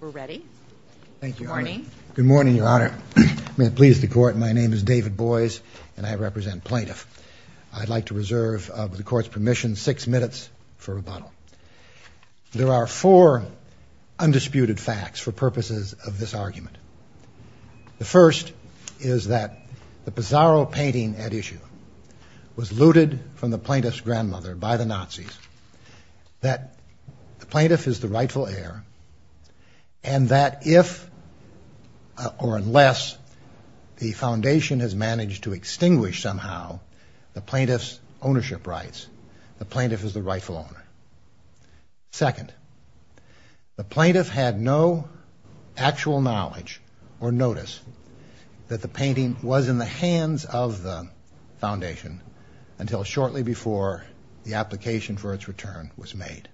We're ready. Good morning. Good morning, Your Honor. May it please the Court, my name is David Boies, and I represent Plaintiff. I'd like to reserve, with the Court's permission, six minutes for rebuttal. There are four undisputed facts for purposes of this argument. The first is that the Pizarro painting at issue was looted from the Plaintiff's grandmother by the Nazis, that the Plaintiff is the rightful heir, and that if or unless the Foundation has managed to extinguish somehow the Plaintiff's ownership rights, the Plaintiff is the rightful owner. Second, the Plaintiff had no actual knowledge or notice that the painting was in the hands of the Foundation until shortly before the application for its return was made.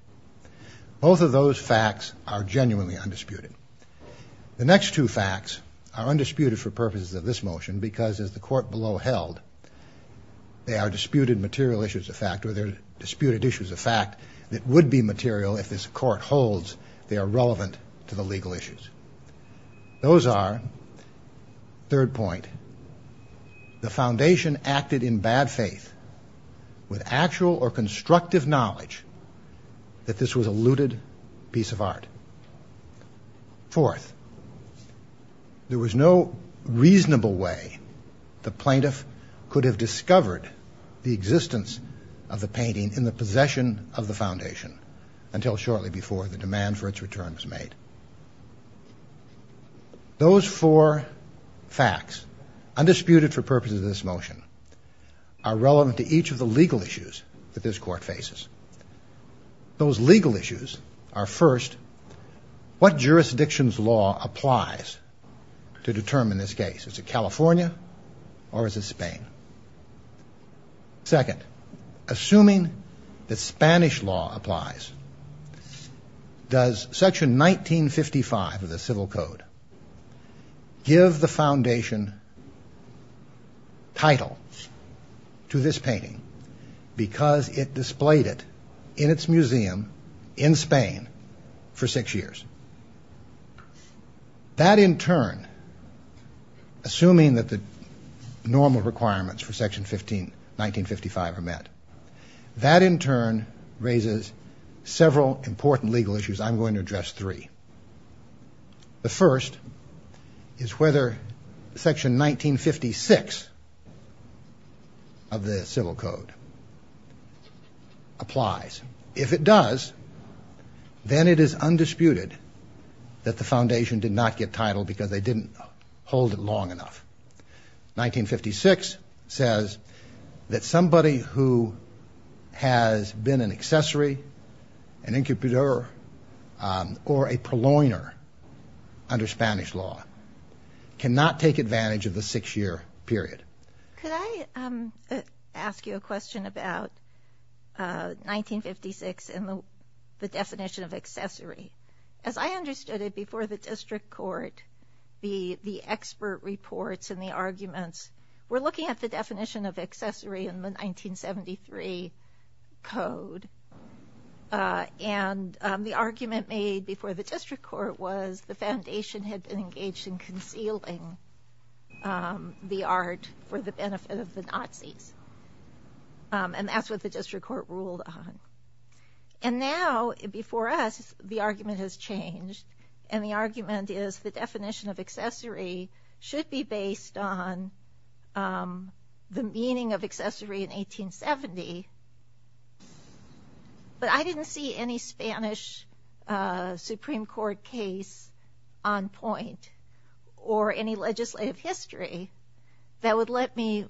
Both of those facts are genuinely undisputed. The next two facts are undisputed for purposes of this motion because, as the Court below held, they are disputed material issues of fact, or they're disputed issues of fact that would be material if this Court holds they are relevant to the legal issues. Those are, third point, the Foundation acted in bad faith with actual or constructive knowledge that this was a looted piece of art. Fourth, there was no reasonable way the Plaintiff could have discovered the existence of the painting in the possession of the Foundation until shortly before the demand for its return was made. Those four facts, undisputed for purposes of this motion, are relevant to each of the legal issues that this Court faces. Those legal issues are, first, what jurisdiction's law applies to determine this case? Is it California or is it Spain? Second, assuming that Spanish law applies, does Section 1955 of the Civil Code give the Foundation title to this painting because it displayed it in its museum in Spain for six years? That, in turn, assuming that the normal requirements for Section 1955 are met, that, in turn, raises several important legal issues. I'm going to address three. The first is whether Section 1956 of the Civil Code applies. If it does, then it is undisputed that the Foundation did not get title because they didn't hold it long enough. 1956 says that somebody who has been an accessory, an incubator, or a purloiner under Spanish law cannot take advantage of the six-year period. Could I ask you a question about 1956 and the definition of accessory? As I understood it before the District Court, the expert reports and the arguments were looking at the definition of accessory in the 1973 Code. The argument made before the District Court was the Foundation had been engaged in concealing the art for the benefit of the Nazis. That's what the District Court ruled on. Now, before us, the argument has changed. The argument is the definition of accessory should be based on the meaning of accessory in 1870, but I didn't see any Spanish Supreme Court case on point or any legislative history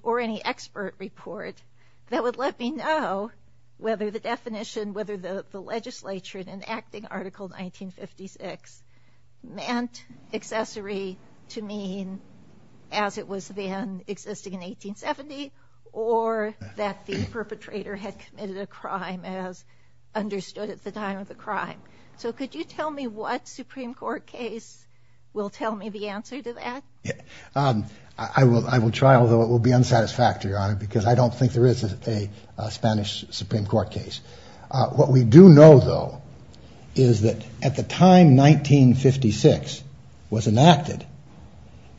or any expert report that would let me know whether the definition, whether the legislature in enacting Article 1956 meant accessory to mean as it was then existing in 1870 or that the perpetrator had committed a crime as understood at the time of the crime. So could you tell me what Supreme Court case will tell me the answer to that? I will try, although it will be unsatisfactory, Your Honor, because I don't think there is a Spanish Supreme Court case. What we do know, though, is that at the time 1956 was enacted,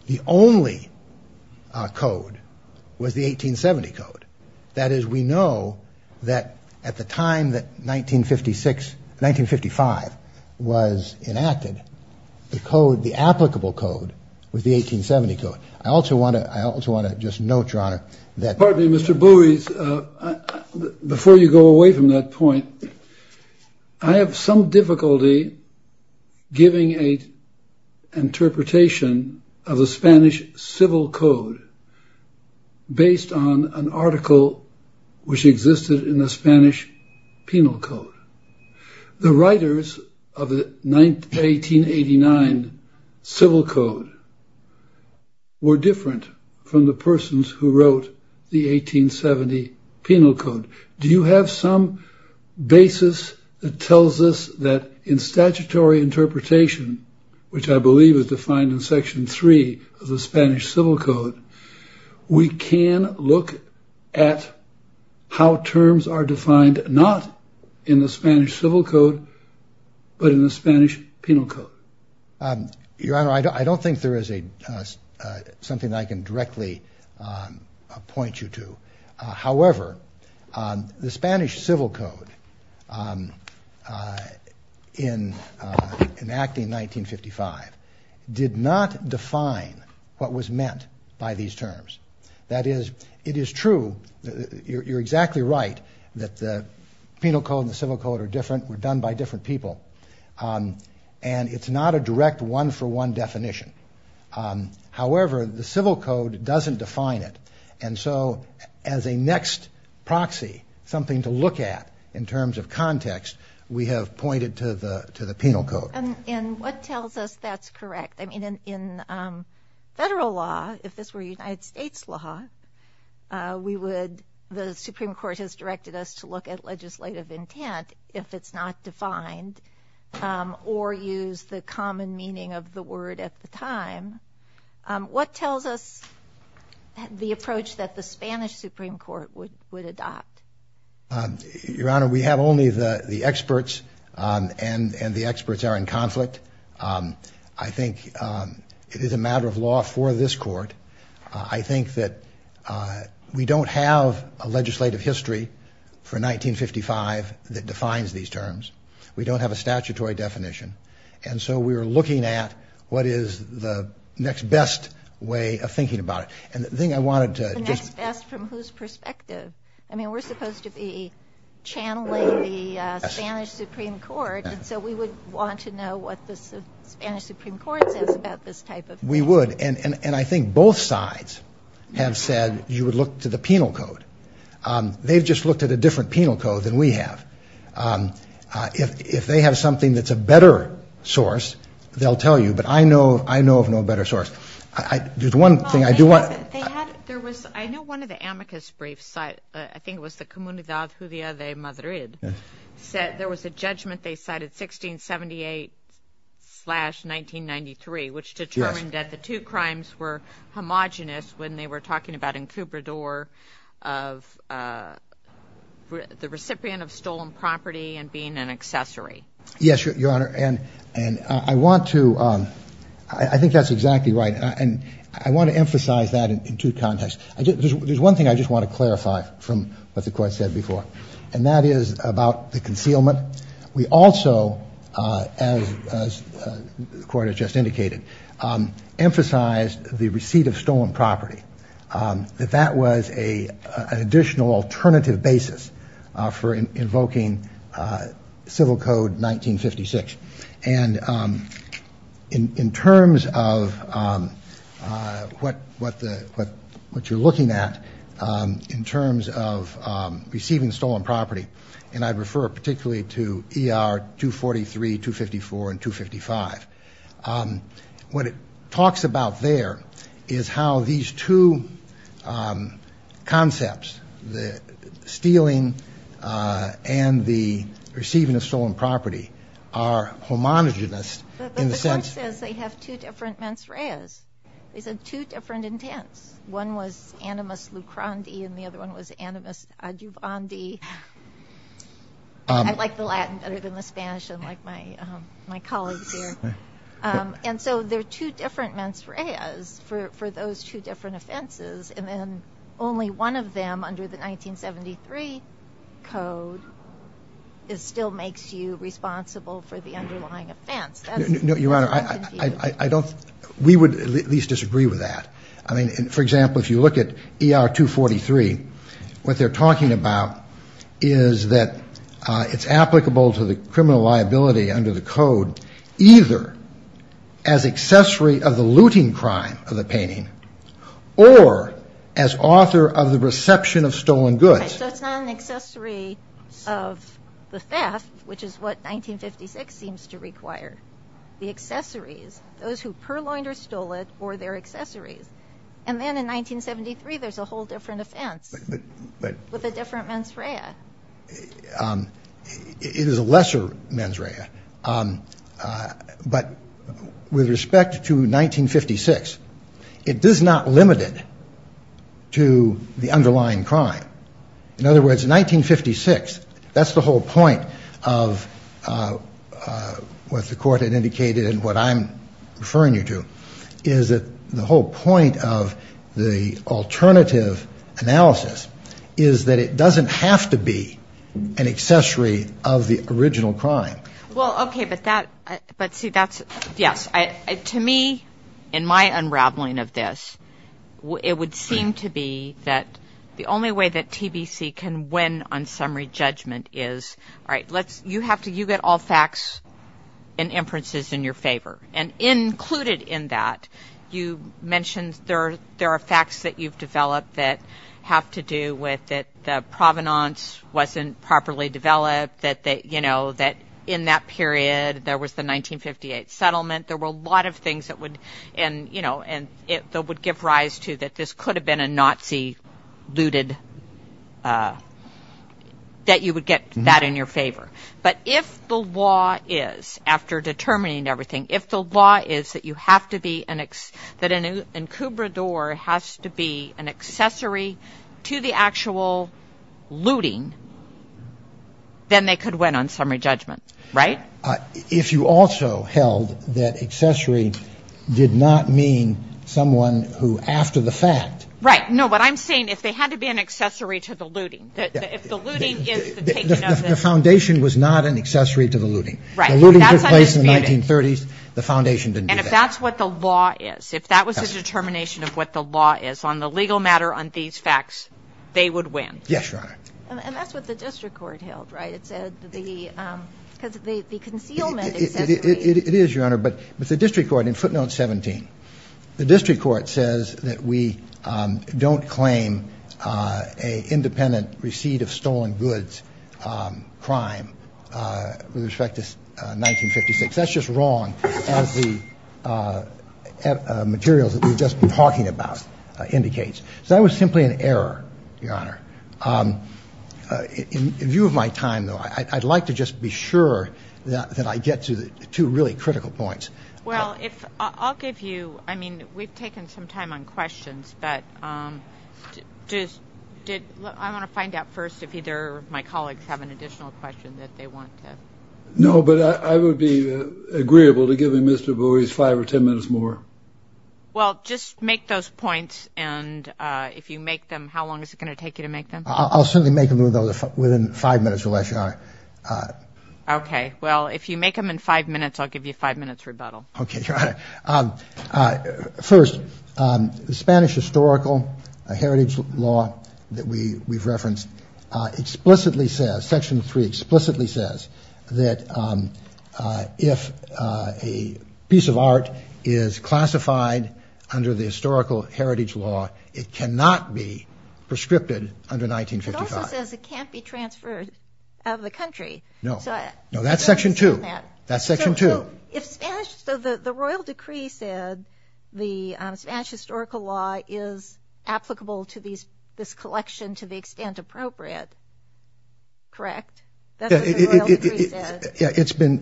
the only code was the 1870 Code. That is, we know that at the time that 1955 was enacted, the code, the applicable code, was the 1870 Code. I also want to just note, Your Honor, that... which existed in the Spanish Penal Code. The writers of the 1889 Civil Code were different from the persons who wrote the 1870 Penal Code. Do you have some basis that tells us that in statutory interpretation, which I believe is defined in Section 3 of the Spanish Civil Code, we can look at how terms are defined not in the Spanish Civil Code, but in the Spanish Penal Code? Your Honor, I don't think there is something that I can directly point you to. However, the Spanish Civil Code, in enacting 1955, did not define what was meant by these terms. That is, it is true, you're exactly right, that the Penal Code and the Civil Code are different, were done by different people, and it's not a direct one-for-one definition. However, the Civil Code doesn't define it, and so as a next proxy, something to look at in terms of context, we have pointed to the Penal Code. And what tells us that's correct? I mean, in federal law, if this were United States law, we would, the Supreme Court has directed us to look at legislative intent if it's not defined, or use the common meaning of the word at the time. What tells us the approach that the Spanish Supreme Court would adopt? Your Honor, we have only the experts, and the experts are in conflict. I think it is a matter of law for this Court. I think that we don't have a legislative history for 1955 that defines these terms. We don't have a statutory definition. And so we are looking at what is the next best way of thinking about it. And the thing I wanted to just... The next best from whose perspective? I mean, we're supposed to be channeling the Spanish Supreme Court, and so we would want to know what the Spanish Supreme Court says about this type of thing. We would, and I think both sides have said you would look to the Penal Code. They've just looked at a different Penal Code than we have. If they have something that's a better source, they'll tell you, but I know of no better source. There's one thing I do want... I know one of the amicus briefs, I think it was the Comunidad Judia de Madrid, said there was a judgment they cited, 1678-1993, which determined that the two crimes were homogenous when they were talking about Encubador of the recipient of stolen property and being an accessory. Yes, Your Honor, and I want to... There's one thing I just want to clarify from what the Court said before, and that is about the concealment. We also, as the Court has just indicated, emphasized the receipt of stolen property, that that was an additional alternative basis for invoking Civil Code 1956. And in terms of what you're looking at, in terms of receiving stolen property, and I'd refer particularly to ER 243, 254, and 255, what it talks about there is how these two concepts, the stealing and the receiving of stolen property, are homogenous in the sense... But the Court says they have two different mens reas. They said two different intents. One was animus lucrandi, and the other one was animus adjuvandi. I like the Latin better than the Spanish, unlike my colleagues here. And so there are two different mens reas for those two different offenses, and then only one of them under the 1973 Code still makes you responsible for the underlying offense. No, Your Honor, I don't... We would at least disagree with that. I mean, for example, if you look at ER 243, what they're talking about is that it's applicable to the criminal liability under the Code either as accessory of the looting crime of the painting or as author of the reception of stolen goods. So it's not an accessory of the theft, which is what 1956 seems to require. The accessories, those who purloined or stole it, or their accessories. And then in 1973, there's a whole different offense with a different mens rea. It is a lesser mens rea. But with respect to 1956, it is not limited to the underlying crime. In other words, 1956, that's the whole point of what the Court had indicated and what I'm referring you to, is that the whole point of the alternative analysis is that it doesn't have to be an accessory of the original crime. Well, okay, but that... But see, that's... Yes. To me, in my unraveling of this, it would seem to be that the only way that TBC can win on summary judgment is, all right, you get all facts and inferences in your favor. And included in that, you mentioned there are facts that you've developed that have to do with the provenance wasn't properly developed, that in that period, there was the 1958 settlement. There were a lot of things that would give rise to that this could have been a Nazi looted, that you would get that in your favor. But if the law is, after determining everything, if the law is that you have to be an... that an incubador has to be an accessory to the actual looting, then they could win on summary judgment, right? If you also held that accessory did not mean someone who, after the fact... Right. No, what I'm saying, if they had to be an accessory to the looting, if the looting is the taking of the... The foundation was not an accessory to the looting. Right. The looting took place in the 1930s. That's undisputed. The foundation didn't do that. And if that's what the law is, if that was the determination of what the law is on the legal matter on these facts, they would win. Yes, Your Honor. And that's what the district court held, right? It said the, because the concealment accessory... It is, Your Honor. But the district court, in footnote 17, the district court says that we don't claim an independent receipt of stolen goods crime with respect to 1956. That's just wrong as the materials that we've just been talking about indicates. So that was simply an error, Your Honor. In view of my time, though, I'd like to just be sure that I get to the two really critical points. Well, I'll give you, I mean, we've taken some time on questions, but I want to find out first if either of my colleagues have an additional question that they want to... No, but I would be agreeable to giving Mr. Bowie five or ten minutes more. Well, just make those points, and if you make them, how long is it going to take you to make them? I'll certainly make them within five minutes, Your Honor. Okay. Well, if you make them in five minutes, I'll give you a five-minute rebuttal. Okay, Your Honor. First, the Spanish historical heritage law that we've referenced explicitly says, Section 3 explicitly says that if a piece of art is classified under the historical heritage law, it cannot be prescripted under 1955. It also says it can't be transferred out of the country. No. No, that's Section 2. That's Section 2. So the royal decree said the Spanish historical law is applicable to this collection to the extent appropriate, correct? That's what the royal decree said. Yeah, it's been,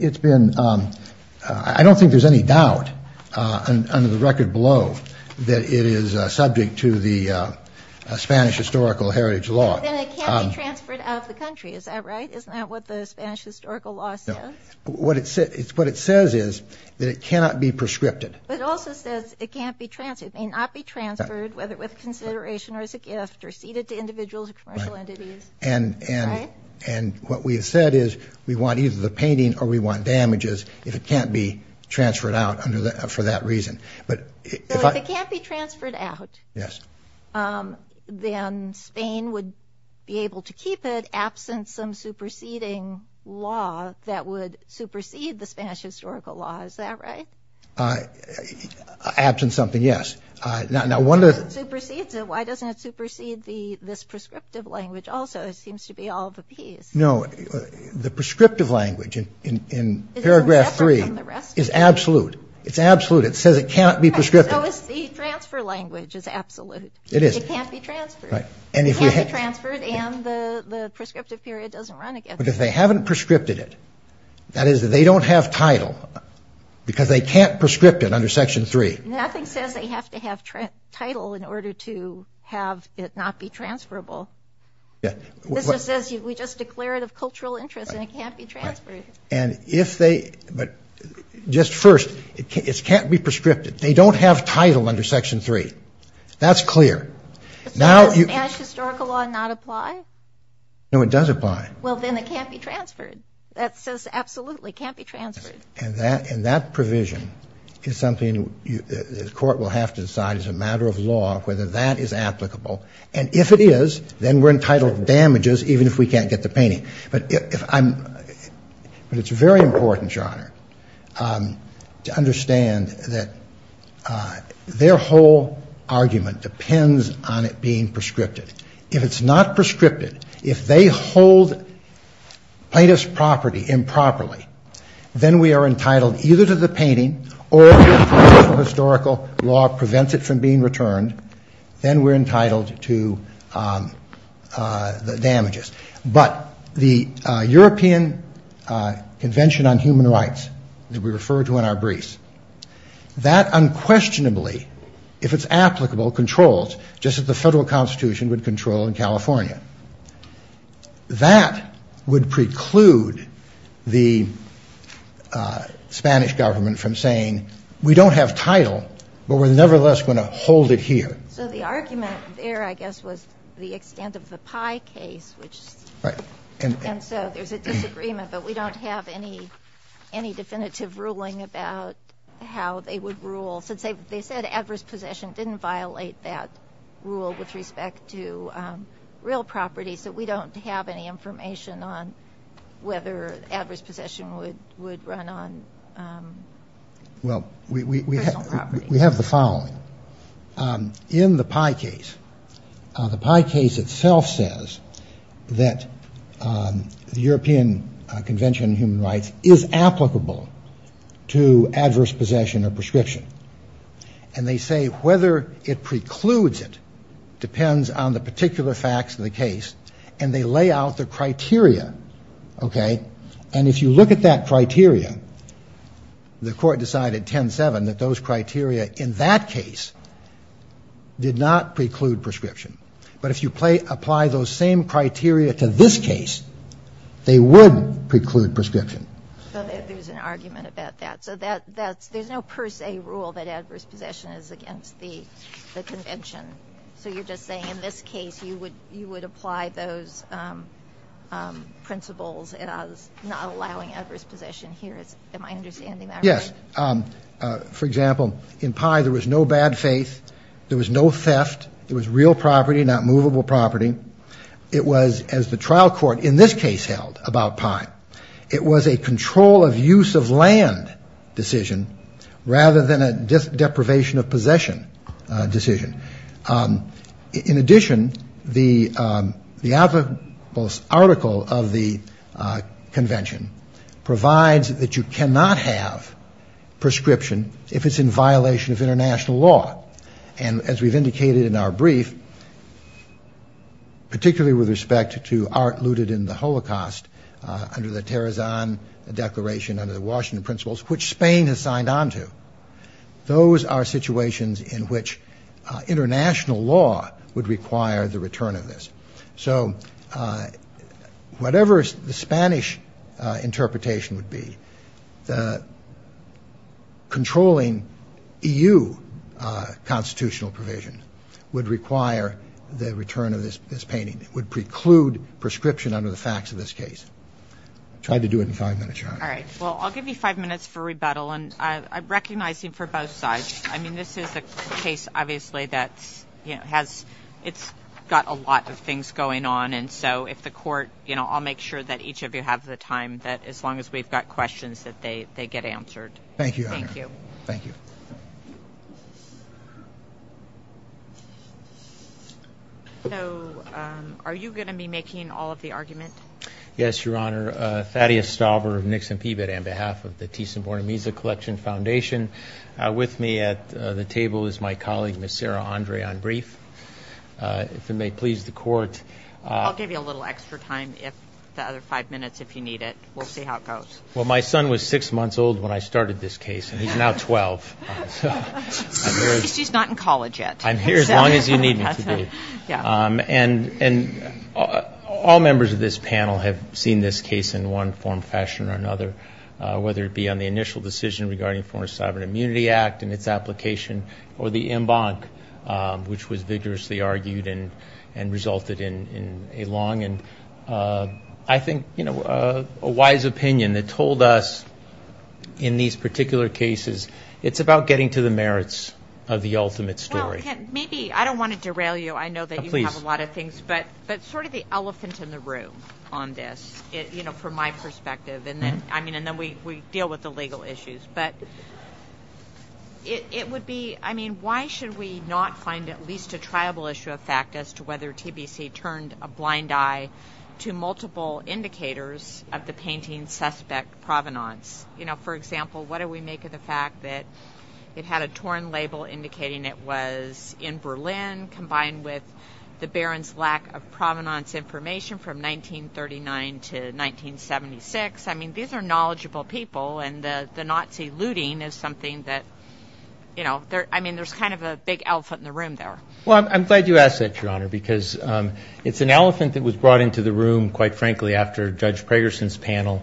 I don't think there's any doubt under the record below that it is subject to the Spanish historical heritage law. Then it can't be transferred out of the country, is that right? Isn't that what the Spanish historical law says? No. What it says is that it cannot be prescripted. But it also says it may not be transferred, whether with consideration or as a gift or ceded to individuals or commercial entities. Right. And what we have said is we want either the painting or we want damages if it can't be transferred out for that reason. So if it can't be transferred out, then Spain would be able to keep it absent some superseding law that would supersede the Spanish historical law, is that right? Absent something, yes. Why doesn't it supersede this prescriptive language also? It seems to be all of the Ps. No, the prescriptive language in paragraph 3 is absolute. It's absolute. It says it can't be prescriptive. The transfer language is absolute. It is. It can't be transferred. Right. It can't be transferred and the prescriptive period doesn't run again. But if they haven't prescripted it, that is, they don't have title because they can't prescript it under section 3. Nothing says they have to have title in order to have it not be transferable. Yeah. This just says we just declare it of cultural interest and it can't be transferred. And if they, but just first, it can't be prescriptive. They don't have title under section 3. That's clear. Does Spanish historical law not apply? No, it does apply. Well, then it can't be transferred. That says absolutely it can't be transferred. And that provision is something the court will have to decide as a matter of law whether that is applicable. And if it is, then we're entitled to damages even if we can't get the painting. But if I'm, but it's very important, Your Honor, to understand that their whole argument depends on it being prescriptive. If it's not prescriptive, if they hold plaintiff's property improperly, then we are entitled either to the painting or if historical law prevents it from being returned, then we're entitled to the damages. But the European Convention on Human Rights that we refer to in our briefs, that unquestionably, if it's applicable, controls just as the federal constitution would control in California. That would preclude the Spanish government from saying we don't have title, but we're nevertheless going to hold it here. So the argument there, I guess, was the extent of the Pai case. Right. And so there's a disagreement, but we don't have any definitive ruling about how they would rule. Since they said adverse possession didn't violate that rule with respect to real property, so we don't have any information on whether adverse possession would run on personal property. Well, we have the following. In the Pai case, the Pai case itself says that the European Convention on Human Rights is applicable to adverse possession or prescription. And they say whether it precludes it depends on the particular facts of the case. And they lay out the criteria. Okay. And if you look at that criteria, the court decided 10-7 that those criteria in that case did not preclude prescription. But if you apply those same criteria to this case, they would preclude prescription. So there's an argument about that. So there's no per se rule that adverse possession is against the convention. So you're just saying in this case you would apply those principles as not allowing adverse possession here. Am I understanding that right? Yes. For example, in Pai there was no bad faith. There was no theft. It was real property, not movable property. It was, as the trial court in this case held about Pai, it was a control of use of land decision rather than a deprivation of possession decision. In addition, the article of the convention provides that you cannot have prescription if it's in violation of international law. And as we've indicated in our brief, particularly with respect to art looted in the Holocaust under the Terezan Declaration, under the Washington Principles, which Spain has signed on to, those are situations in which international law would require the return of this. So whatever the Spanish interpretation would be, the controlling EU constitutional provision would require the return of this painting. It would preclude prescription under the facts of this case. I'll try to do it in five minutes, Your Honor. All right. Well, I'll give you five minutes for rebuttal. And I recognize him for both sides. I mean, this is a case, obviously, that's, you know, it's got a lot of things going on. And so if the court, you know, I'll make sure that each of you have the time, that as long as we've got questions, that they get answered. Thank you, Your Honor. Thank you. Thank you. So are you going to be making all of the argument? Yes, Your Honor. Thank you, Your Honor. Thaddeus Stauber of Nixon Peabody on behalf of the Thyssen-Bornemisza Collection Foundation. With me at the table is my colleague, Ms. Sarah Andre, on brief. If it may please the court. I'll give you a little extra time, the other five minutes, if you need it. We'll see how it goes. Well, my son was six months old when I started this case, and he's now 12. She's not in college yet. I'm here as long as you need me to be. And all members of this panel have seen this case in one form or fashion or another, whether it be on the initial decision regarding Foreign Sovereign Immunity Act and its application, or the en banc, which was vigorously argued and resulted in a long and I think, you know, a wise opinion that told us, in these particular cases, it's about getting to the merits of the ultimate story. Maybe, I don't want to derail you, I know that you have a lot of things, but sort of the elephant in the room on this, you know, from my perspective, and then we deal with the legal issues. But it would be, I mean, why should we not find at least a triable issue of fact as to whether TBC turned a blind eye to multiple indicators of the painting's suspect provenance? You know, for example, what do we make of the fact that it had a torn label indicating it was in Berlin, combined with the Baron's lack of provenance information from 1939 to 1976? I mean, these are knowledgeable people, and the Nazi looting is something that, you know, I mean, there's kind of a big elephant in the room there. Well, I'm glad you asked that, Your Honor, because it's an elephant that was brought into the room, quite frankly, after Judge Pragerson's panel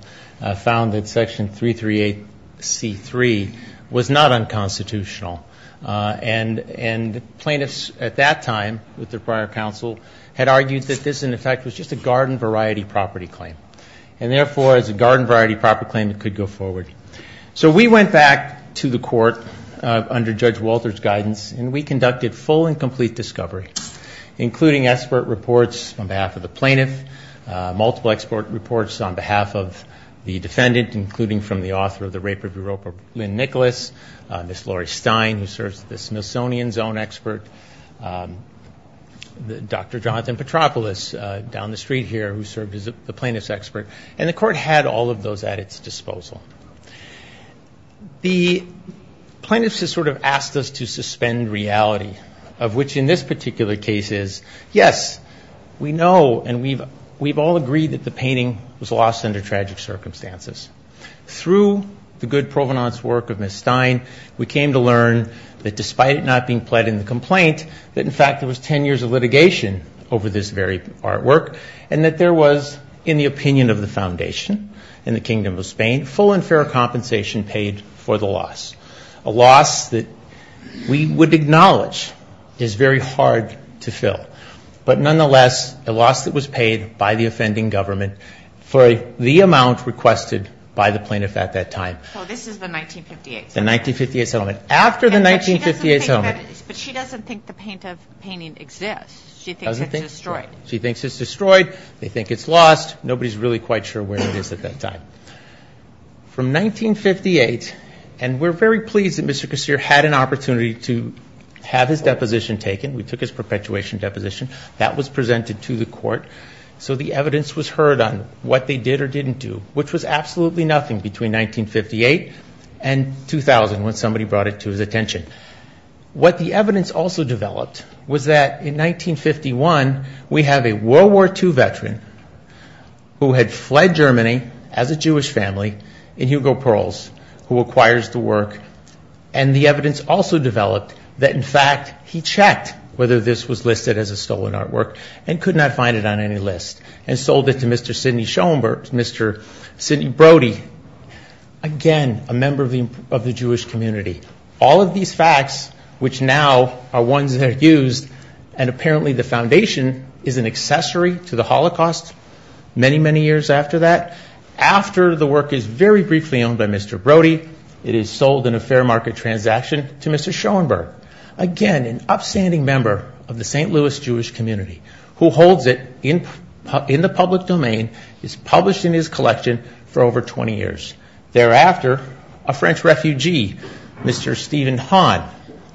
found that Section 338C3 was not unconstitutional. And plaintiffs at that time, with their prior counsel, had argued that this, in effect, was just a garden variety property claim. And therefore, as a garden variety property claim, it could go forward. So we went back to the court under Judge Walter's guidance, and we conducted full and complete discovery, including expert reports on behalf of the plaintiff, multiple expert reports on behalf of the defendant, including from the author of the Rape of Europa, Lynn Nicholas, Miss Laurie Stein, who serves as the Smithsonian's own expert, Dr. Jonathan Petropoulos down the street here, who served as the plaintiff's expert. And the court had all of those at its disposal. The plaintiffs have sort of asked us to suspend reality, of which in this particular case is, yes, we know and we've all agreed that the painting was lost under tragic circumstances. Through the good provenance work of Miss Stein, we came to learn that despite it not being pled in the complaint, that, in fact, there was 10 years of litigation over this very artwork, and that there was, in the opinion of the Foundation and the Kingdom of Spain, full and fair compensation paid for the loss, a loss that we would acknowledge is very hard to fill. But nonetheless, a loss that was paid by the offending government for the amount requested by the plaintiff at that time. So this is the 1958 settlement. The 1958 settlement. After the 1958 settlement. But she doesn't think the painting exists. She thinks it's destroyed. She thinks it's destroyed. They think it's lost. Nobody's really quite sure where it is at that time. From 1958, and we're very pleased that Mr. Kossir had an opportunity to have his deposition taken. We took his perpetuation deposition. That was presented to the court. So the evidence was heard on what they did or didn't do, which was absolutely nothing between 1958 and 2000 when somebody brought it to his attention. What the evidence also developed was that in 1951, we have a World War II veteran who had fled Germany as a Jewish family in Hugo Perls, who acquires the work. And the evidence also developed that, in fact, he checked whether this was listed as a stolen artwork and could not find it on any list and sold it to Mr. Sidney Schoenberg, Mr. Sidney Brody. Again, a member of the Jewish community. All of these facts, which now are ones that are used, and apparently the foundation is an accessory to the Holocaust many, many years after that. After the work is very briefly owned by Mr. Brody, it is sold in a fair market transaction to Mr. Schoenberg. Again, an upstanding member of the St. Louis Jewish community, who holds it in the public domain, is published in his collection for over 20 years. Thereafter, a French refugee, Mr. Stephen Hahn,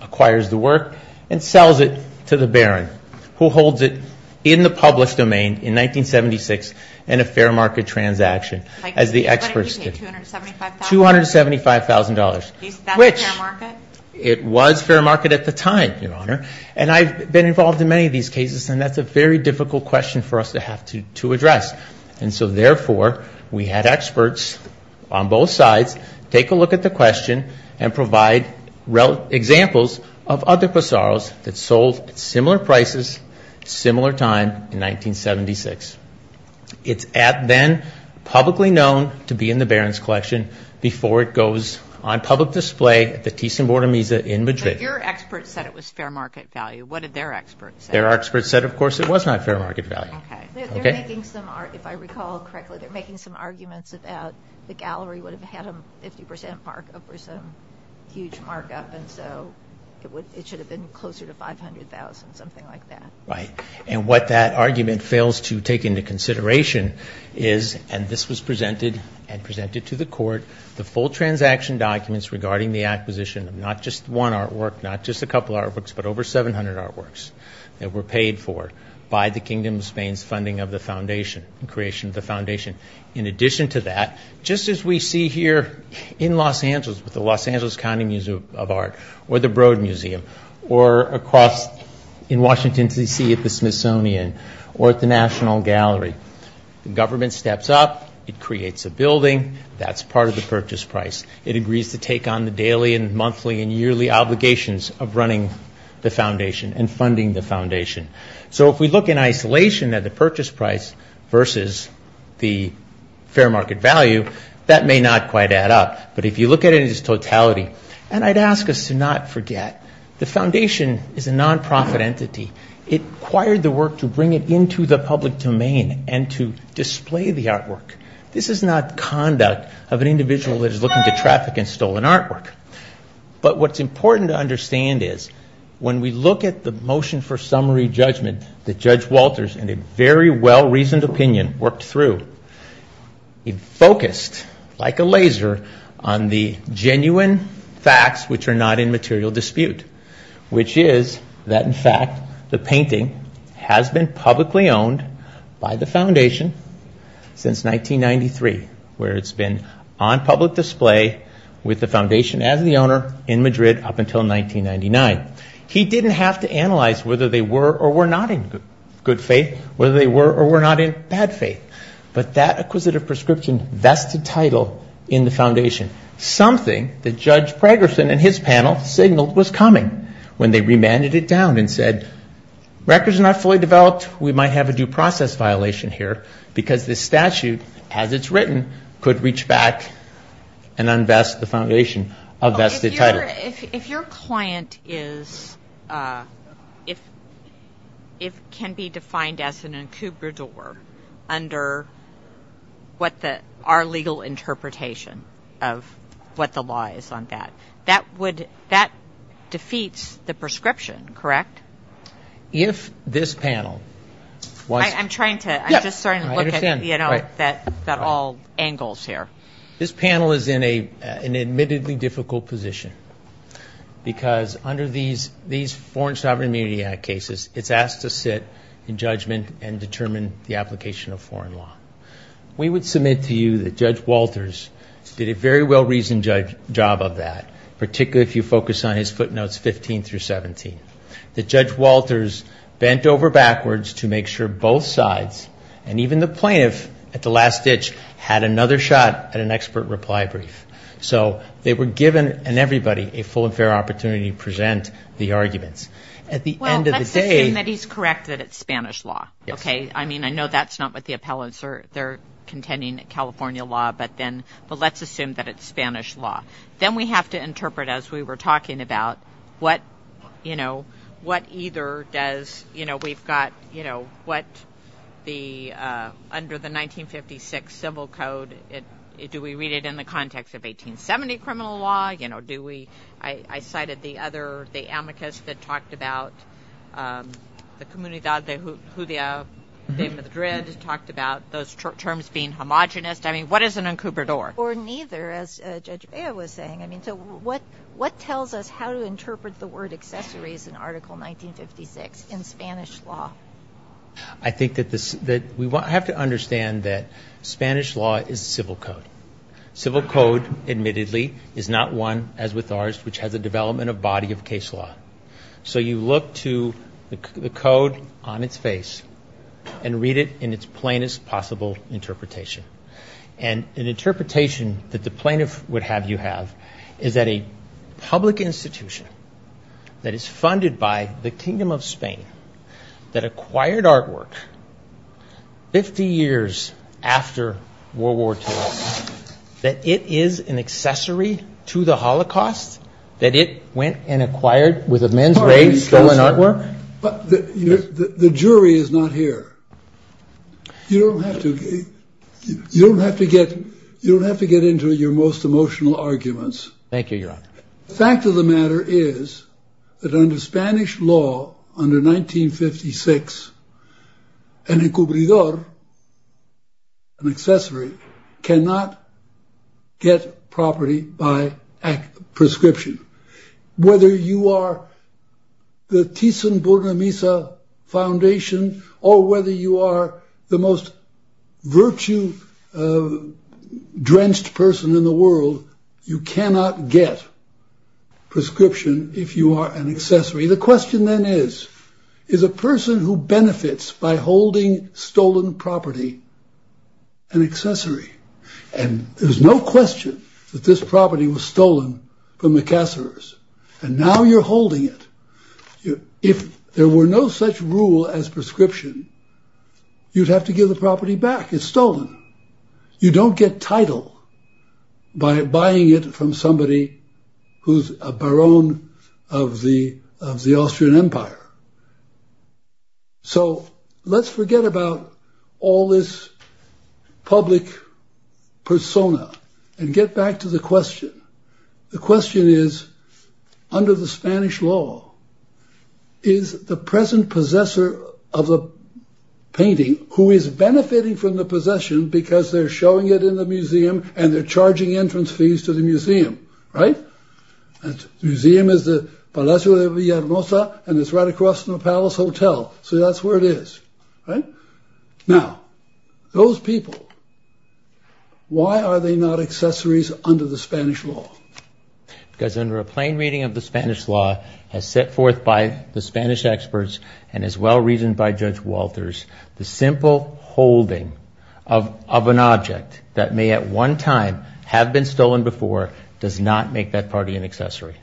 acquires the work and sells it to the Baron, who holds it in the published domain in 1976 in a fair market transaction, as the experts did. $275,000. That's fair market? It was fair market at the time, Your Honor. And I've been involved in many of these cases, and that's a very difficult question for us to address. And so, therefore, we had experts on both sides take a look at the question and provide examples of other passaros that sold at similar prices at a similar time in 1976. It's then publicly known to be in the Baron's collection before it goes on public display at the Thyssen-Bornemisza in Madrid. But your experts said it was fair market value. What did their experts say? Their experts said, of course, it was not fair market value. Okay. They're making some, if I recall correctly, they're making some arguments about the gallery would have had a 50% markup or some huge markup, and so it should have been closer to $500,000, something like that. Right. And what that argument fails to take into consideration is, and this was presented and presented to the court, the full transaction documents regarding the acquisition of not just one artwork, not just a couple artworks, but over 700 artworks that were paid for by the Kingdom of Spain's funding of the foundation, creation of the foundation. In addition to that, just as we see here in Los Angeles with the Los Angeles County Museum of Art or the Broad Museum or across in Washington, D.C. at the Smithsonian or at the National Gallery, the government steps up, it creates a building, that's part of the purchase price. It agrees to take on the daily and monthly and yearly obligations of running the foundation and funding the foundation. So if we look in isolation at the purchase price versus the fair market value, that may not quite add up. But if you look at it as totality, and I'd ask us to not forget, the foundation is a nonprofit entity. It acquired the work to bring it into the public domain and to display the artwork. This is not conduct of an individual that is looking to traffic in stolen artwork. But what's important to understand is when we look at the motion for summary judgment that Judge Walters, in a very well-reasoned opinion, worked through, he focused like a laser on the genuine facts which are not in material dispute, which is that, in fact, the painting has been publicly owned by the foundation since 1993, where it's been on public display with the foundation as the owner in Madrid up until 1999. He didn't have to analyze whether they were or were not in good faith, whether they were or were not in bad faith. But that acquisitive prescription vested title in the foundation, something that Judge Pragerson and his panel signaled was coming when they remanded it down and said, records are not fully developed, we might have a due process violation here, because this statute, as it's written, could reach back and unvest the foundation of vested title. If your client can be defined as an incubador under our legal interpretation of what the law is on that, that defeats the prescription, correct? I'm just starting to look at all angles here. This panel is in an admittedly difficult position, because under these Foreign Sovereign Immunity Act cases, it's asked to sit in judgment and determine the application of foreign law. We would submit to you that Judge Walters did a very well-reasoned job of that, particularly if you focus on his footnotes 15 through 17. That Judge Walters bent over backwards to make sure both sides, and even the plaintiff at the last ditch, had another shot at an expert reply brief. So they were given, and everybody, a full and fair opportunity to present the arguments. At the end of the day — Well, let's assume that he's correct that it's Spanish law, okay? I mean, I know that's not what the appellants are contending, California law, but let's assume that it's Spanish law. Then we have to interpret, as we were talking about, what either does – we've got what the – under the 1956 Civil Code, do we read it in the context of 1870 criminal law? Do we – I cited the other – the amicus that talked about the Comunidad de Judeo de Madrid talked about those terms being homogenous. I mean, what is an incubador? Or neither, as Judge Bea was saying. I mean, so what tells us how to interpret the word accessories in Article 1956 in Spanish law? I think that we have to understand that Spanish law is a civil code. Civil code, admittedly, is not one, as with ours, which has a development of body of case law. So you look to the code on its face and read it in its plainest possible interpretation. And an interpretation that the plaintiff would have you have is that a public institution that is funded by the Kingdom of Spain, that acquired artwork 50 years after World War II, that it is an accessory to the Holocaust, that it went and acquired, with a men's raise, stolen artwork? The jury is not here. You don't have to get into your most emotional arguments. Thank you, Your Honor. The fact of the matter is that under Spanish law, under 1956, an incubador, an accessory, cannot get property by prescription. Whether you are the Thyssen-Burnemisza Foundation, or whether you are the most virtue-drenched person in the world, you cannot get prescription if you are an accessory. The question then is, is a person who benefits by holding stolen property an accessory? And there's no question that this property was stolen from the Kasserers. And now you're holding it. If there were no such rule as prescription, you'd have to give the property back. It's stolen. You don't get title by buying it from somebody who's a baron of the Austrian Empire. So let's forget about all this public persona and get back to the question. The question is, under the Spanish law, is the present possessor of the painting, who is benefiting from the possession because they're showing it in the museum and they're charging entrance fees to the museum, right? The museum is the Palacio de Villahermosa, and it's right across from the Palace Hotel. So that's where it is, right? Now, those people, why are they not accessories under the Spanish law? Because under a plain reading of the Spanish law as set forth by the Spanish experts and as well reasoned by Judge Walters, the simple holding of an object that may at one time have been stolen before does not make that party an accessory.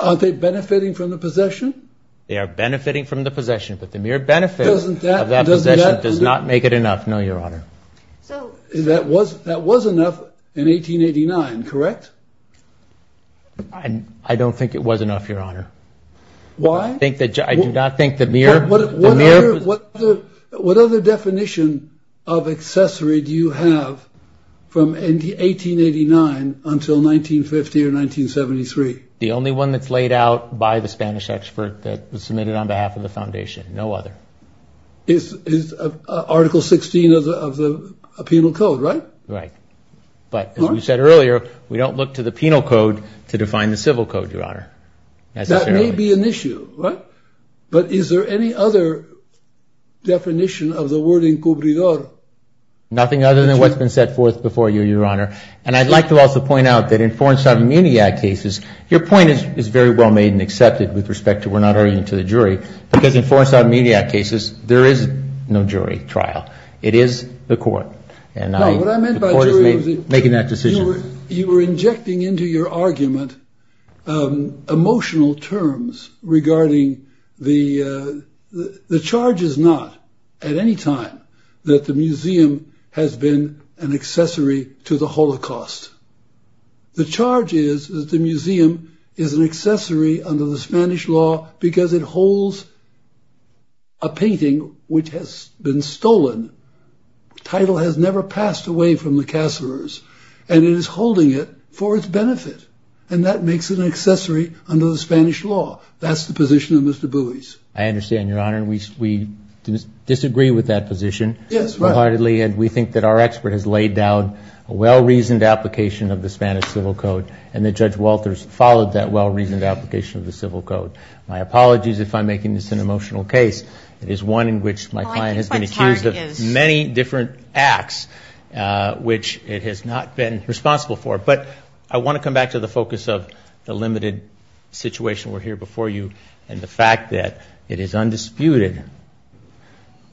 Are they benefiting from the possession? They are benefiting from the possession, but the mere benefit of that possession does not make it enough. No, Your Honor. That was enough in 1889, correct? I don't think it was enough, Your Honor. Why? I do not think the mere... What other definition of accessory do you have from 1889 until 1950 or 1973? The only one that's laid out by the Spanish expert that was submitted on behalf of the Foundation, no other. Article 16 of the Penal Code, right? Right. But as we said earlier, we don't look to the Penal Code to define the Civil Code, Your Honor. That may be an issue, right? But is there any other definition of the word encubridor? Nothing other than what's been set forth before you, Your Honor. And I'd like to also point out that in Foreign Sovereign Immunity Act cases, your point is very well made and accepted with respect to we're not arguing to the jury, because in Foreign Sovereign Immunity Act cases, there is no jury trial. It is the court. No, what I meant by jury was... The court is making that decision. You were injecting into your argument emotional terms regarding the... The charge is not at any time that the museum has been an accessory to the Holocaust. The charge is that the museum is an accessory under the Spanish law because it holds a painting which has been stolen. The title has never passed away from the casseroles, and it is holding it for its benefit, and that makes it an accessory under the Spanish law. That's the position of Mr. Buies. I understand, Your Honor. We disagree with that position wholeheartedly, and we think that our expert has laid down a well-reasoned application of the Spanish Civil Code, and that Judge Walters followed that well-reasoned application of the Civil Code. My apologies if I'm making this an emotional case. It is one in which my client has been accused of many different acts, which it has not been responsible for. But I want to come back to the focus of the limited situation we're here before you and the fact that it is undisputed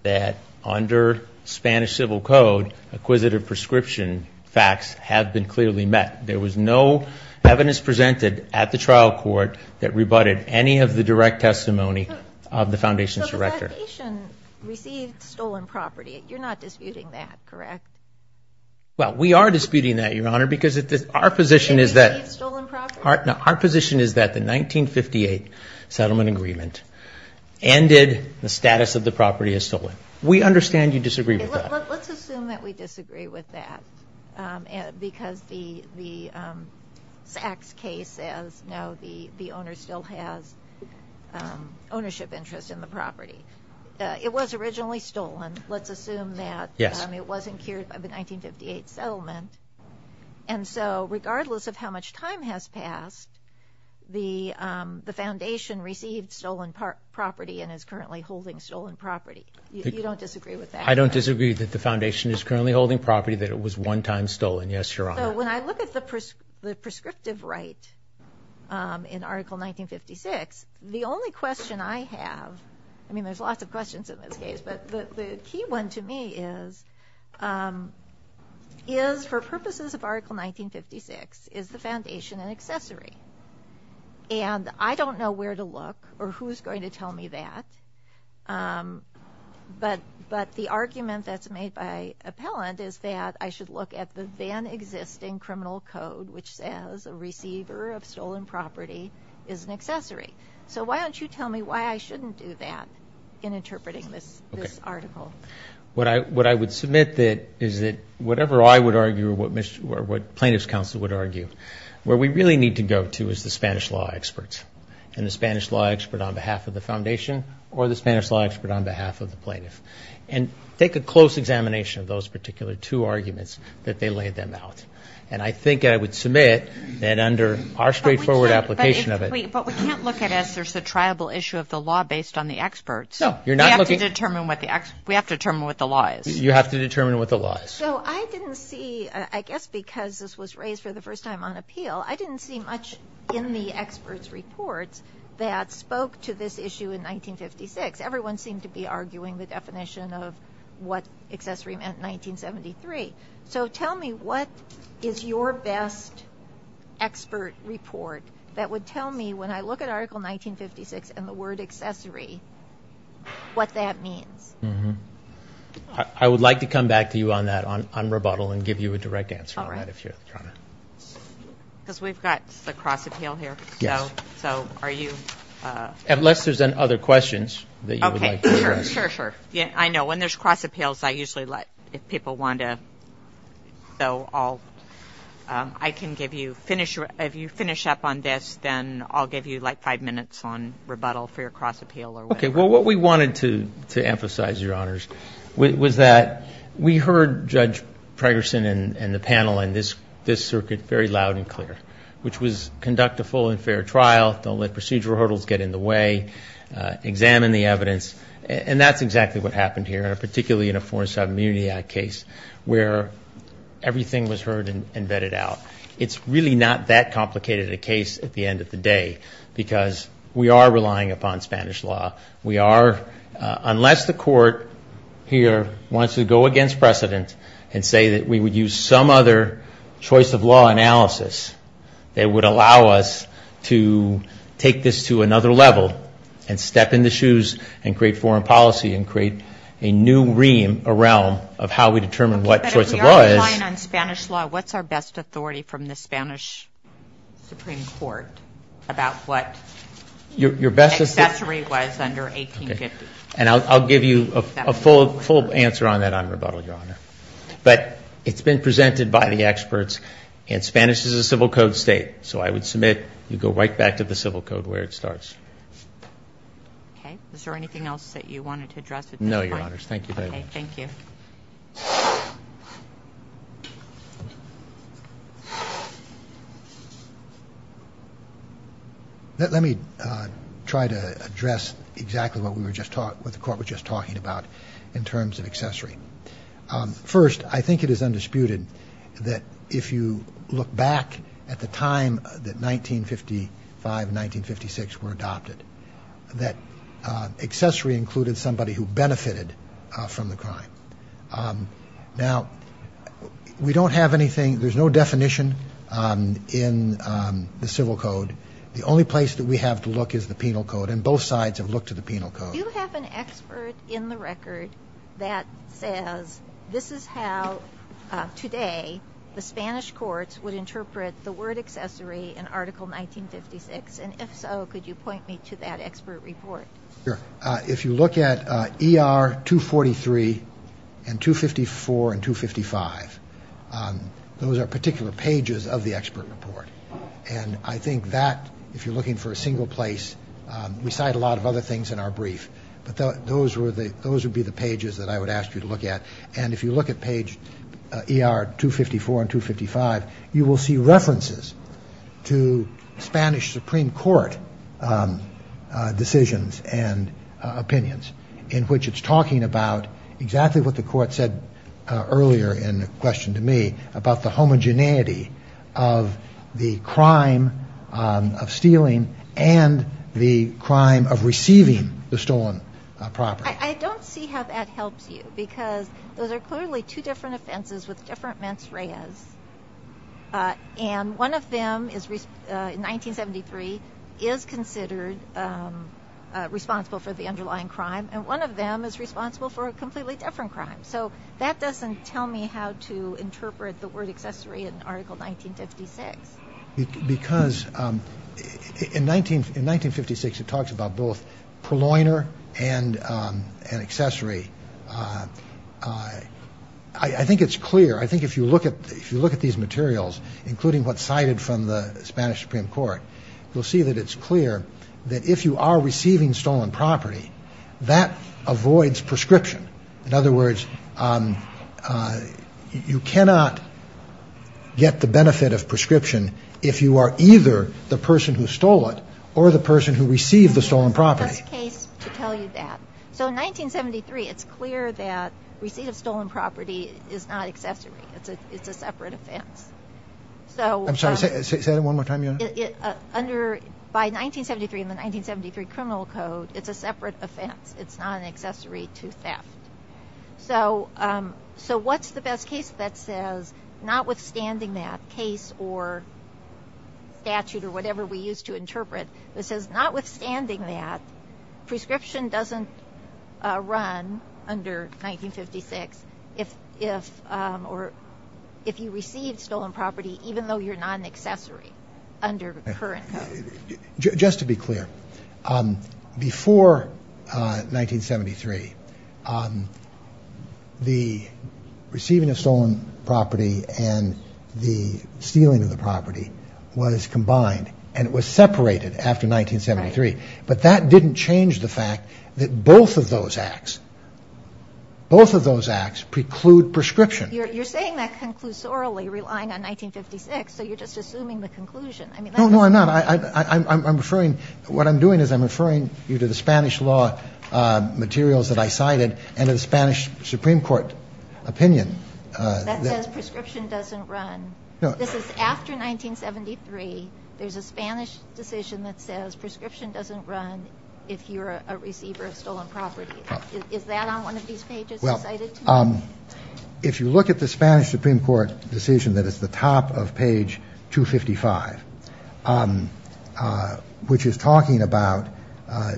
that under Spanish Civil Code, acquisitive prescription facts have been clearly met. There was no evidence presented at the trial court that rebutted any of the direct testimony of the Foundation's director. So the Foundation received stolen property. You're not disputing that, correct? Well, we are disputing that, Your Honor, because our position is that the 1958 settlement agreement ended the status of the property as stolen. We understand you disagree with that. Let's assume that we disagree with that because the Sachs case says, no, the owner still has ownership interest in the property. It was originally stolen. Let's assume that it wasn't cured by the 1958 settlement. And so regardless of how much time has passed, the Foundation received stolen property and is currently holding stolen property. You don't disagree with that? I don't disagree that the Foundation is currently holding property that it was one time stolen. Yes, Your Honor. So when I look at the prescriptive right in Article 1956, the only question I have, I mean, there's lots of questions in this case, but the key one to me is, is for purposes of Article 1956, is the Foundation an accessory? And I don't know where to look or who's going to tell me that. But the argument that's made by appellant is that I should look at the then existing criminal code, which says a receiver of stolen property is an accessory. So why don't you tell me why I shouldn't do that in interpreting this article? Okay. What I would submit is that whatever I would argue or what plaintiff's counsel would argue, where we really need to go to is the Spanish law experts and the Spanish law expert on behalf of the Foundation or the Spanish law expert on behalf of the plaintiff. And take a close examination of those particular two arguments that they laid them out. And I think I would submit that under our straightforward application of it. But we can't look at it as there's a triable issue of the law based on the experts. No, you're not looking. We have to determine what the law is. You have to determine what the law is. So I didn't see, I guess because this was raised for the first time on appeal, I didn't see much in the experts' reports that spoke to this issue in 1956. Everyone seemed to be arguing the definition of what accessory meant in 1973. So tell me what is your best expert report that would tell me, when I look at Article 1956 and the word accessory, what that means? I would like to come back to you on that, on rebuttal, and give you a direct answer on that if you're trying to. All right. Because we've got the cross-appeal here. Yes. So are you? Unless there's other questions that you would like to address. Okay, sure, sure, sure. I know, when there's cross-appeals, I usually let, if people want to, so I'll, I can give you, if you finish up on this, then I'll give you like five minutes on rebuttal for your cross-appeal or whatever. Okay, well, what we wanted to emphasize, Your Honors, was that we heard Judge Pregerson and the panel in this circuit very loud and clear, which was conduct a full and fair trial, don't let procedural hurdles get in the way, examine the evidence. And that's exactly what happened here, particularly in a Foreign Subimmunity Act case, where everything was heard and vetted out. It's really not that complicated a case at the end of the day, because we are relying upon Spanish law. We are, unless the Court here wants to go against precedent and say that we would use some other choice of law analysis that would allow us to take this to another level and step in the shoes and create foreign policy and create a new realm of how we determine what choice of law is. So relying on Spanish law, what's our best authority from the Spanish Supreme Court about what accessory was under 1850? And I'll give you a full answer on that on rebuttal, Your Honor. But it's been presented by the experts, and Spanish is a civil code state, so I would submit you go right back to the civil code where it starts. Okay, is there anything else that you wanted to address at this point? No, Your Honors. Thank you very much. Okay, thank you. Let me try to address exactly what the Court was just talking about in terms of accessory. First, I think it is undisputed that if you look back at the time that 1955 and 1956 were adopted, that accessory included somebody who benefited from the crime. Now, we don't have anything, there's no definition in the civil code. The only place that we have to look is the penal code, and both sides have looked at the penal code. Do you have an expert in the record that says this is how today the Spanish courts would interpret the word accessory in Article 1956? And if so, could you point me to that expert report? Sure. If you look at ER 243 and 254 and 255, those are particular pages of the expert report. And I think that, if you're looking for a single place, we cite a lot of other things in our brief. But those would be the pages that I would ask you to look at. And if you look at page ER 254 and 255, you will see references to Spanish Supreme Court decisions and opinions, in which it's talking about exactly what the Court said earlier in a question to me, about the homogeneity of the crime of stealing and the crime of receiving the stolen property. I don't see how that helps you, because those are clearly two different offenses with different mens reas. And one of them, in 1973, is considered responsible for the underlying crime, and one of them is responsible for a completely different crime. So that doesn't tell me how to interpret the word accessory in Article 1956. Because in 1956, it talks about both purloiner and accessory. I think it's clear. I think if you look at these materials, including what's cited from the Spanish Supreme Court, you'll see that it's clear that if you are receiving stolen property, that avoids prescription. In other words, you cannot get the benefit of prescription if you are either the person who stole it or the person who received the stolen property. Just a case to tell you that. So in 1973, it's clear that receipt of stolen property is not accessory. It's a separate offense. I'm sorry, say that one more time. By 1973, in the 1973 Criminal Code, it's a separate offense. It's not an accessory to theft. So what's the best case that says, notwithstanding that case or statute or whatever we use to interpret, that says, notwithstanding that, prescription doesn't run under 1956 if you receive stolen property, even though you're not an accessory under the current code. Just to be clear, before 1973, the receiving of stolen property and the stealing of the property was combined, and it was separated after 1973. But that didn't change the fact that both of those acts, both of those acts preclude prescription. You're saying that conclusorily, relying on 1956, so you're just assuming the conclusion. No, no, I'm not. What I'm doing is I'm referring you to the Spanish law materials that I cited and to the Spanish Supreme Court opinion. That says prescription doesn't run. This is after 1973. There's a Spanish decision that says prescription doesn't run if you're a receiver of stolen property. Is that on one of these pages you cited to me? If you look at the Spanish Supreme Court decision that is the top of page 255, which is talking about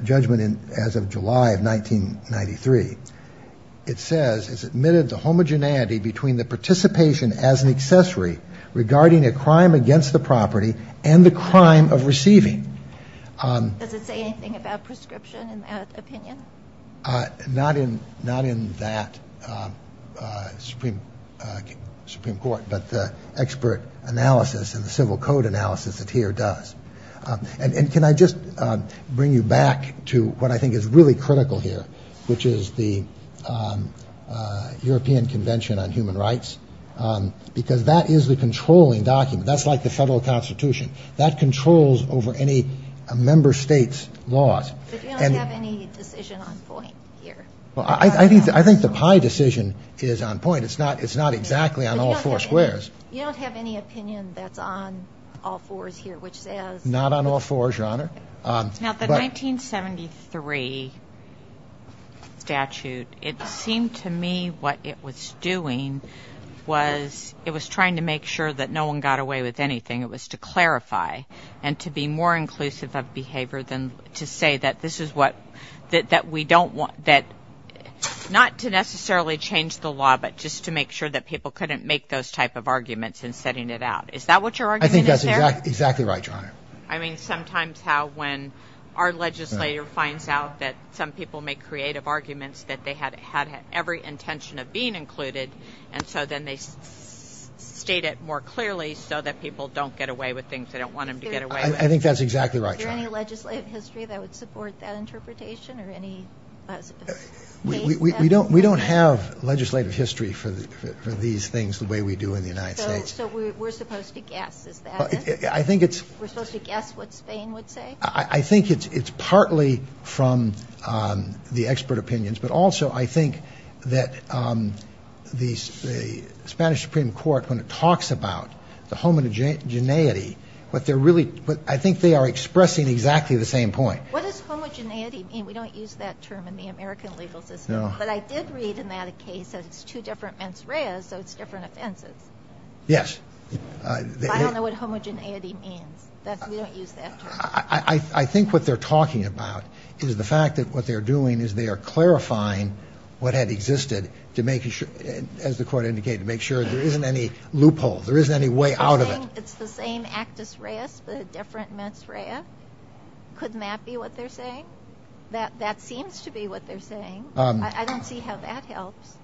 judgment as of July of 1993, it says it's admitted the homogeneity between the participation as an accessory regarding a crime against the property and the crime of receiving. Not in that Supreme Court, but the expert analysis and the civil code analysis that here does. And can I just bring you back to what I think is really critical here, which is the European Convention on Human Rights, because that is the controlling document. That's like the federal constitution. That controls over any member state's laws. But you don't have any decision on point here. Well, I think the pie decision is on point. It's not exactly on all four squares. You don't have any opinion that's on all fours here, which says. Not on all fours, Your Honor. Now, the 1973 statute, it seemed to me what it was doing was it was trying to make sure that no one got away with anything. It was to clarify and to be more inclusive of behavior than to say that this is what, that we don't want, not to necessarily change the law, but just to make sure that people couldn't make those type of arguments in setting it out. Is that what your argument is here? I think that's exactly right, Your Honor. I mean, sometimes how when our legislator finds out that some people make creative arguments that they had every intention of being included, and so then they state it more clearly so that people don't get away with things they don't want them to get away with. I think that's exactly right, Your Honor. Is there any legislative history that would support that interpretation or any case? We don't have legislative history for these things the way we do in the United States. So we're supposed to guess, is that it? I think it's. We're supposed to guess what Spain would say? I think it's partly from the expert opinions, but also I think that the Spanish Supreme Court, when it talks about the homogeneity, what they're really, I think they are expressing exactly the same point. What does homogeneity mean? We don't use that term in the American legal system. No. But I did read in that a case that it's two different mens reas, so it's different offenses. Yes. I don't know what homogeneity means. We don't use that term. I think what they're talking about is the fact that what they're doing is they are clarifying what had existed to make sure, as the Court indicated, to make sure there isn't any loophole. There isn't any way out of it. You're saying it's the same actus reus, but a different mens rea? Couldn't that be what they're saying? That seems to be what they're saying. I don't see how that helps.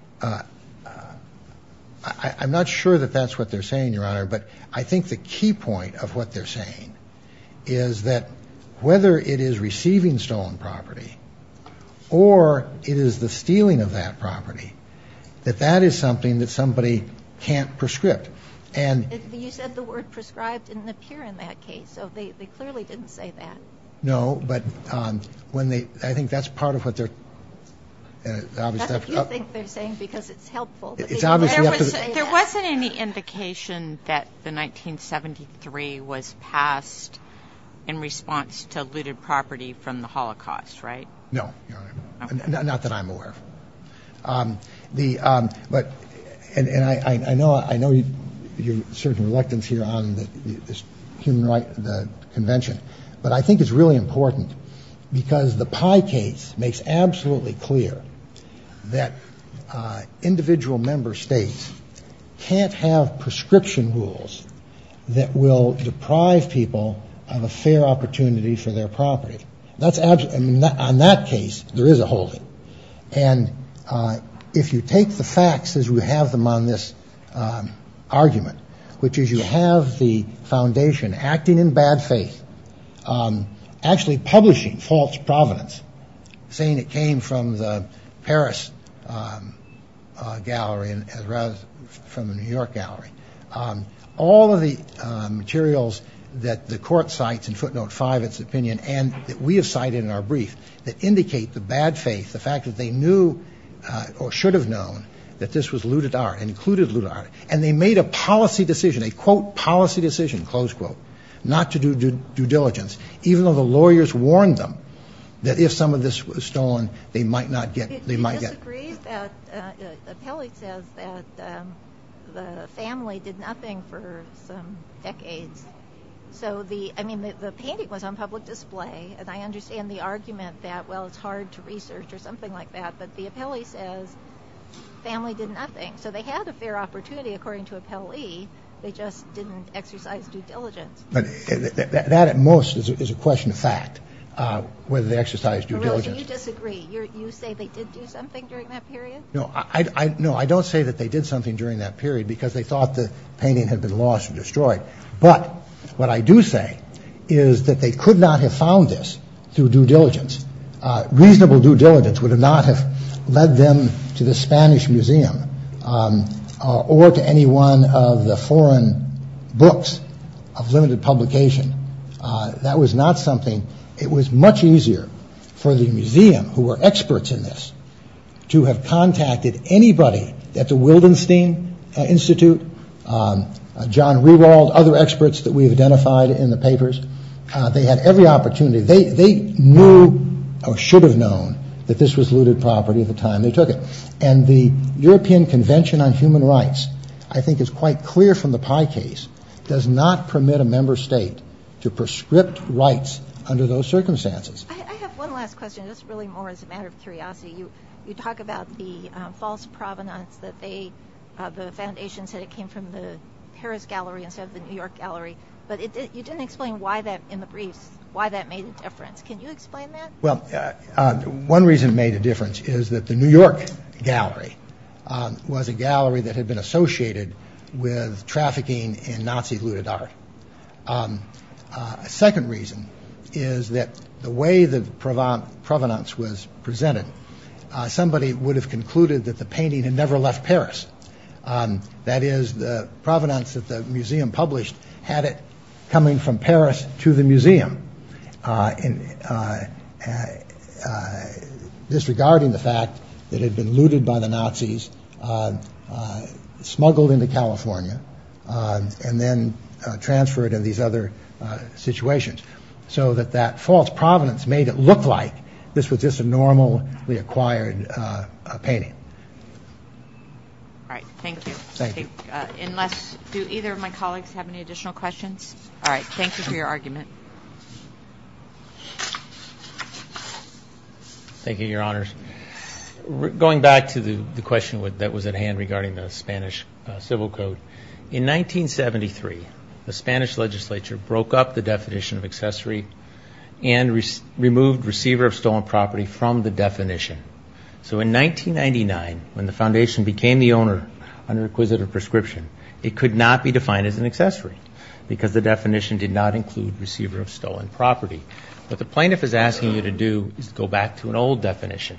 I'm not sure that that's what they're saying, Your Honor, but I think the key point of what they're saying is that whether it is receiving stolen property or it is the stealing of that property, that that is something that somebody can't prescribe. You said the word prescribed didn't appear in that case, so they clearly didn't say that. No, but I think that's part of what they're obviously up to. That's what you think they're saying because it's helpful. There wasn't any indication that the 1973 was passed in response to looted property from the Holocaust, right? No, Your Honor. Not that I'm aware of. And I know you're certain reluctance here on the convention, but I think it's really important because the Pye case makes absolutely clear that individual member states can't have prescription rules that will deprive people of a fair opportunity for their property. That's on that case. There is a holding. And if you take the facts as we have them on this argument, which is you have the foundation acting in bad faith, actually publishing false provenance, saying it came from the Paris gallery rather than from the New York gallery, all of the materials that the court cites in footnote five, its opinion, and that we have cited in our brief that indicate the bad faith, the fact that they knew or should have known that this was looted art, included looted art, and they made a policy decision, a, quote, policy decision, close quote, not to do due diligence, even though the lawyers warned them that if some of this was stolen, they might not get it. They disagreed that the family did nothing for some decades. So the painting was on public display. And I understand the argument that, well, it's hard to research or something like that. But the appellee says family did nothing. So they had a fair opportunity, according to appellee. They just didn't exercise due diligence. But that at most is a question of fact, whether they exercised due diligence. You disagree. You say they did do something during that period. No, I know. I don't say that they did something during that period because they thought the painting had been lost or destroyed. But what I do say is that they could not have found this through due diligence. Reasonable due diligence would not have led them to the Spanish Museum or to any one of the foreign books of limited publication. That was not something. It was much easier for the museum, who were experts in this, to have contacted anybody at the Wildenstein Institute, John Rewald, other experts that we've identified in the papers. They had every opportunity. They knew or should have known that this was looted property at the time they took it. And the European Convention on Human Rights, I think is quite clear from the Pai case, does not permit a member state to prescript rights under those circumstances. I have one last question, just really more as a matter of curiosity. You talk about the false provenance that the foundation said it came from the Paris Gallery instead of the New York Gallery. But you didn't explain why that, in the briefs, why that made a difference. Can you explain that? Well, one reason it made a difference is that the New York Gallery was a gallery that had been associated with trafficking in Nazi looted art. A second reason is that the way the provenance was presented, somebody would have concluded that the painting had never left Paris. That is, the provenance that the museum published had it coming from Paris to the museum. Disregarding the fact that it had been looted by the Nazis, smuggled into California, and then transferred in these other situations. So that that false provenance made it look like this was just a normally acquired painting. All right, thank you. Thank you. Unless, do either of my colleagues have any additional questions? All right, thank you for your argument. Thank you, Your Honors. Going back to the question that was at hand regarding the Spanish Civil Code, in 1973, the Spanish legislature broke up the definition of accessory and removed receiver of stolen property from the definition. So in 1999, when the foundation became the owner under requisite of prescription, it could not be defined as an accessory because the definition did not include receiver of stolen property. What the plaintiff is asking you to do is go back to an old definition,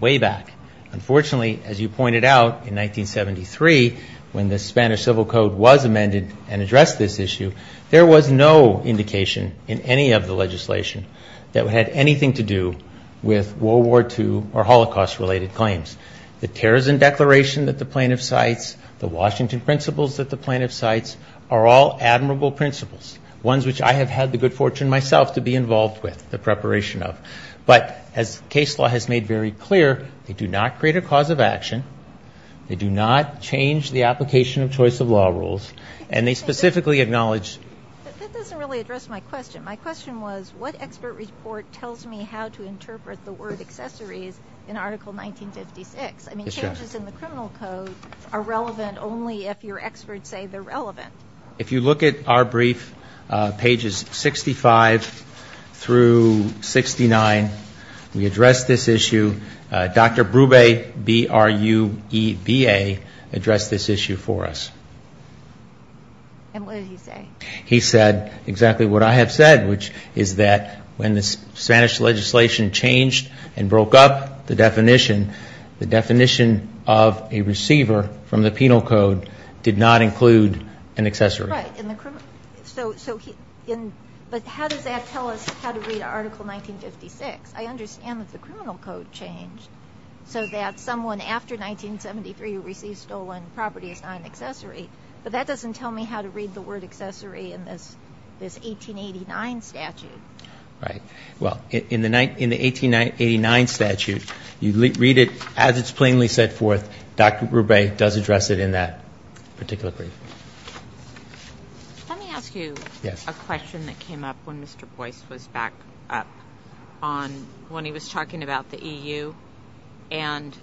way back. Unfortunately, as you pointed out, in 1973, when the Spanish Civil Code was amended and addressed this issue, there was no indication in any of the legislation that it had anything to do with World War II or Holocaust-related claims. The Terrorism Declaration that the plaintiff cites, the Washington Principles that the plaintiff cites are all admirable principles, ones which I have had the good fortune myself to be involved with the preparation of. But as case law has made very clear, they do not create a cause of action, they do not change the application of choice of law rules, and they specifically acknowledge. That doesn't really address my question. My question was what expert report tells me how to interpret the word accessories in Article 1956? I mean, changes in the criminal code are relevant only if your experts say they're relevant. If you look at our brief, pages 65 through 69, we address this issue. Dr. Brube, B-R-U-E-B-A, addressed this issue for us. And what did he say? He said exactly what I have said, which is that when the Spanish legislation changed and broke up the definition, the definition of a receiver from the penal code did not include an accessory. Right. But how does that tell us how to read Article 1956? I understand that the criminal code changed, so that someone after 1973 who receives stolen property is not an accessory, but that doesn't tell me how to read the word accessory in this 1889 statute. Right. Well, in the 1889 statute, you read it as it's plainly set forth. Dr. Brube does address it in that particular brief. Let me ask you a question that came up when Mr. Boyce was back up on when he was talking about the EU. And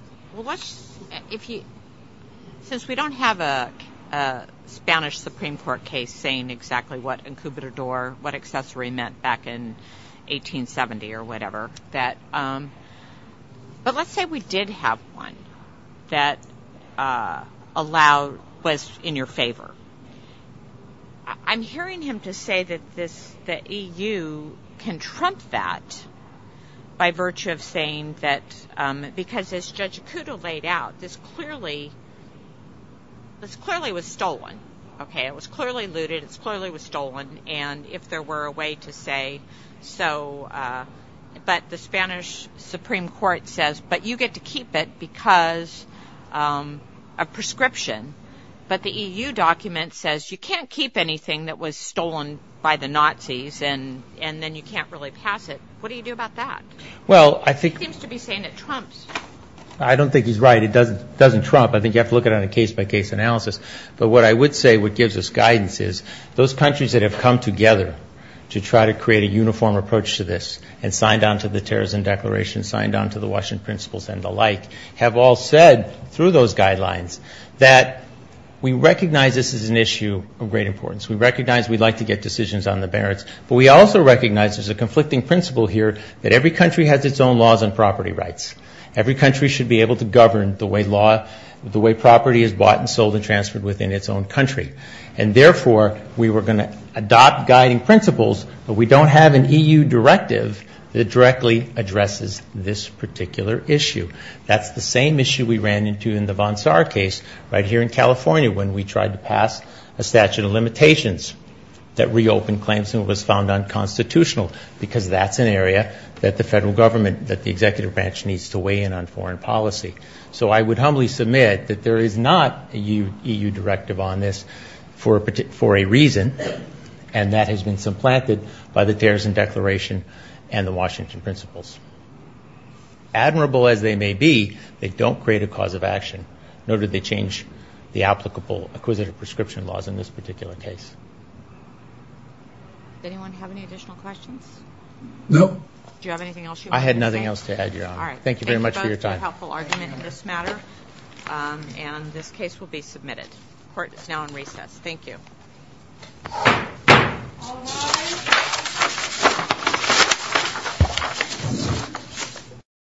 since we don't have a Spanish Supreme Court case saying exactly what incubador, what accessory meant back in 1870 or whatever, but let's say we did have one that was in your favor. I'm hearing him to say that the EU can trump that by virtue of saying that because as Judge Acuda laid out, this clearly was stolen. It was clearly looted. It clearly was stolen. And if there were a way to say so, but the Spanish Supreme Court says, but you get to keep it because of prescription. But the EU document says you can't keep anything that was stolen by the Nazis and then you can't really pass it. What do you do about that? He seems to be saying it trumps. I don't think he's right. It doesn't trump. I think you have to look at it on a case-by-case analysis. But what I would say what gives us guidance is those countries that have come together to try to create a uniform approach to this and signed on to the Terrorism Declaration, signed on to the Washington Principles and the like, have all said through those guidelines that we recognize this is an issue of great importance. We recognize we'd like to get decisions on the barrens, but we also recognize there's a conflicting principle here that every country has its own laws and property rights. Every country should be able to govern the way property is bought and sold and transferred within its own country. And, therefore, we were going to adopt guiding principles, but we don't have an EU directive that directly addresses this particular issue. That's the same issue we ran into in the von Saar case right here in California when we tried to pass a statute of limitations that reopened claims and was found unconstitutional because that's an area that the federal government, that the executive branch needs to weigh in on foreign policy. So I would humbly submit that there is not a EU directive on this for a reason, and that has been supplanted by the Terrorism Declaration and the Washington Principles. Admirable as they may be, they don't create a cause of action, nor did they change the applicable acquisitive prescription laws in this particular case. Does anyone have any additional questions? No. Do you have anything else you want to say? I had nothing else to add, Your Honor. All right. Thank you very much for your time. Thank you both for your helpful argument in this matter, and this case will be submitted. The court is now in recess. Thank you. All rise.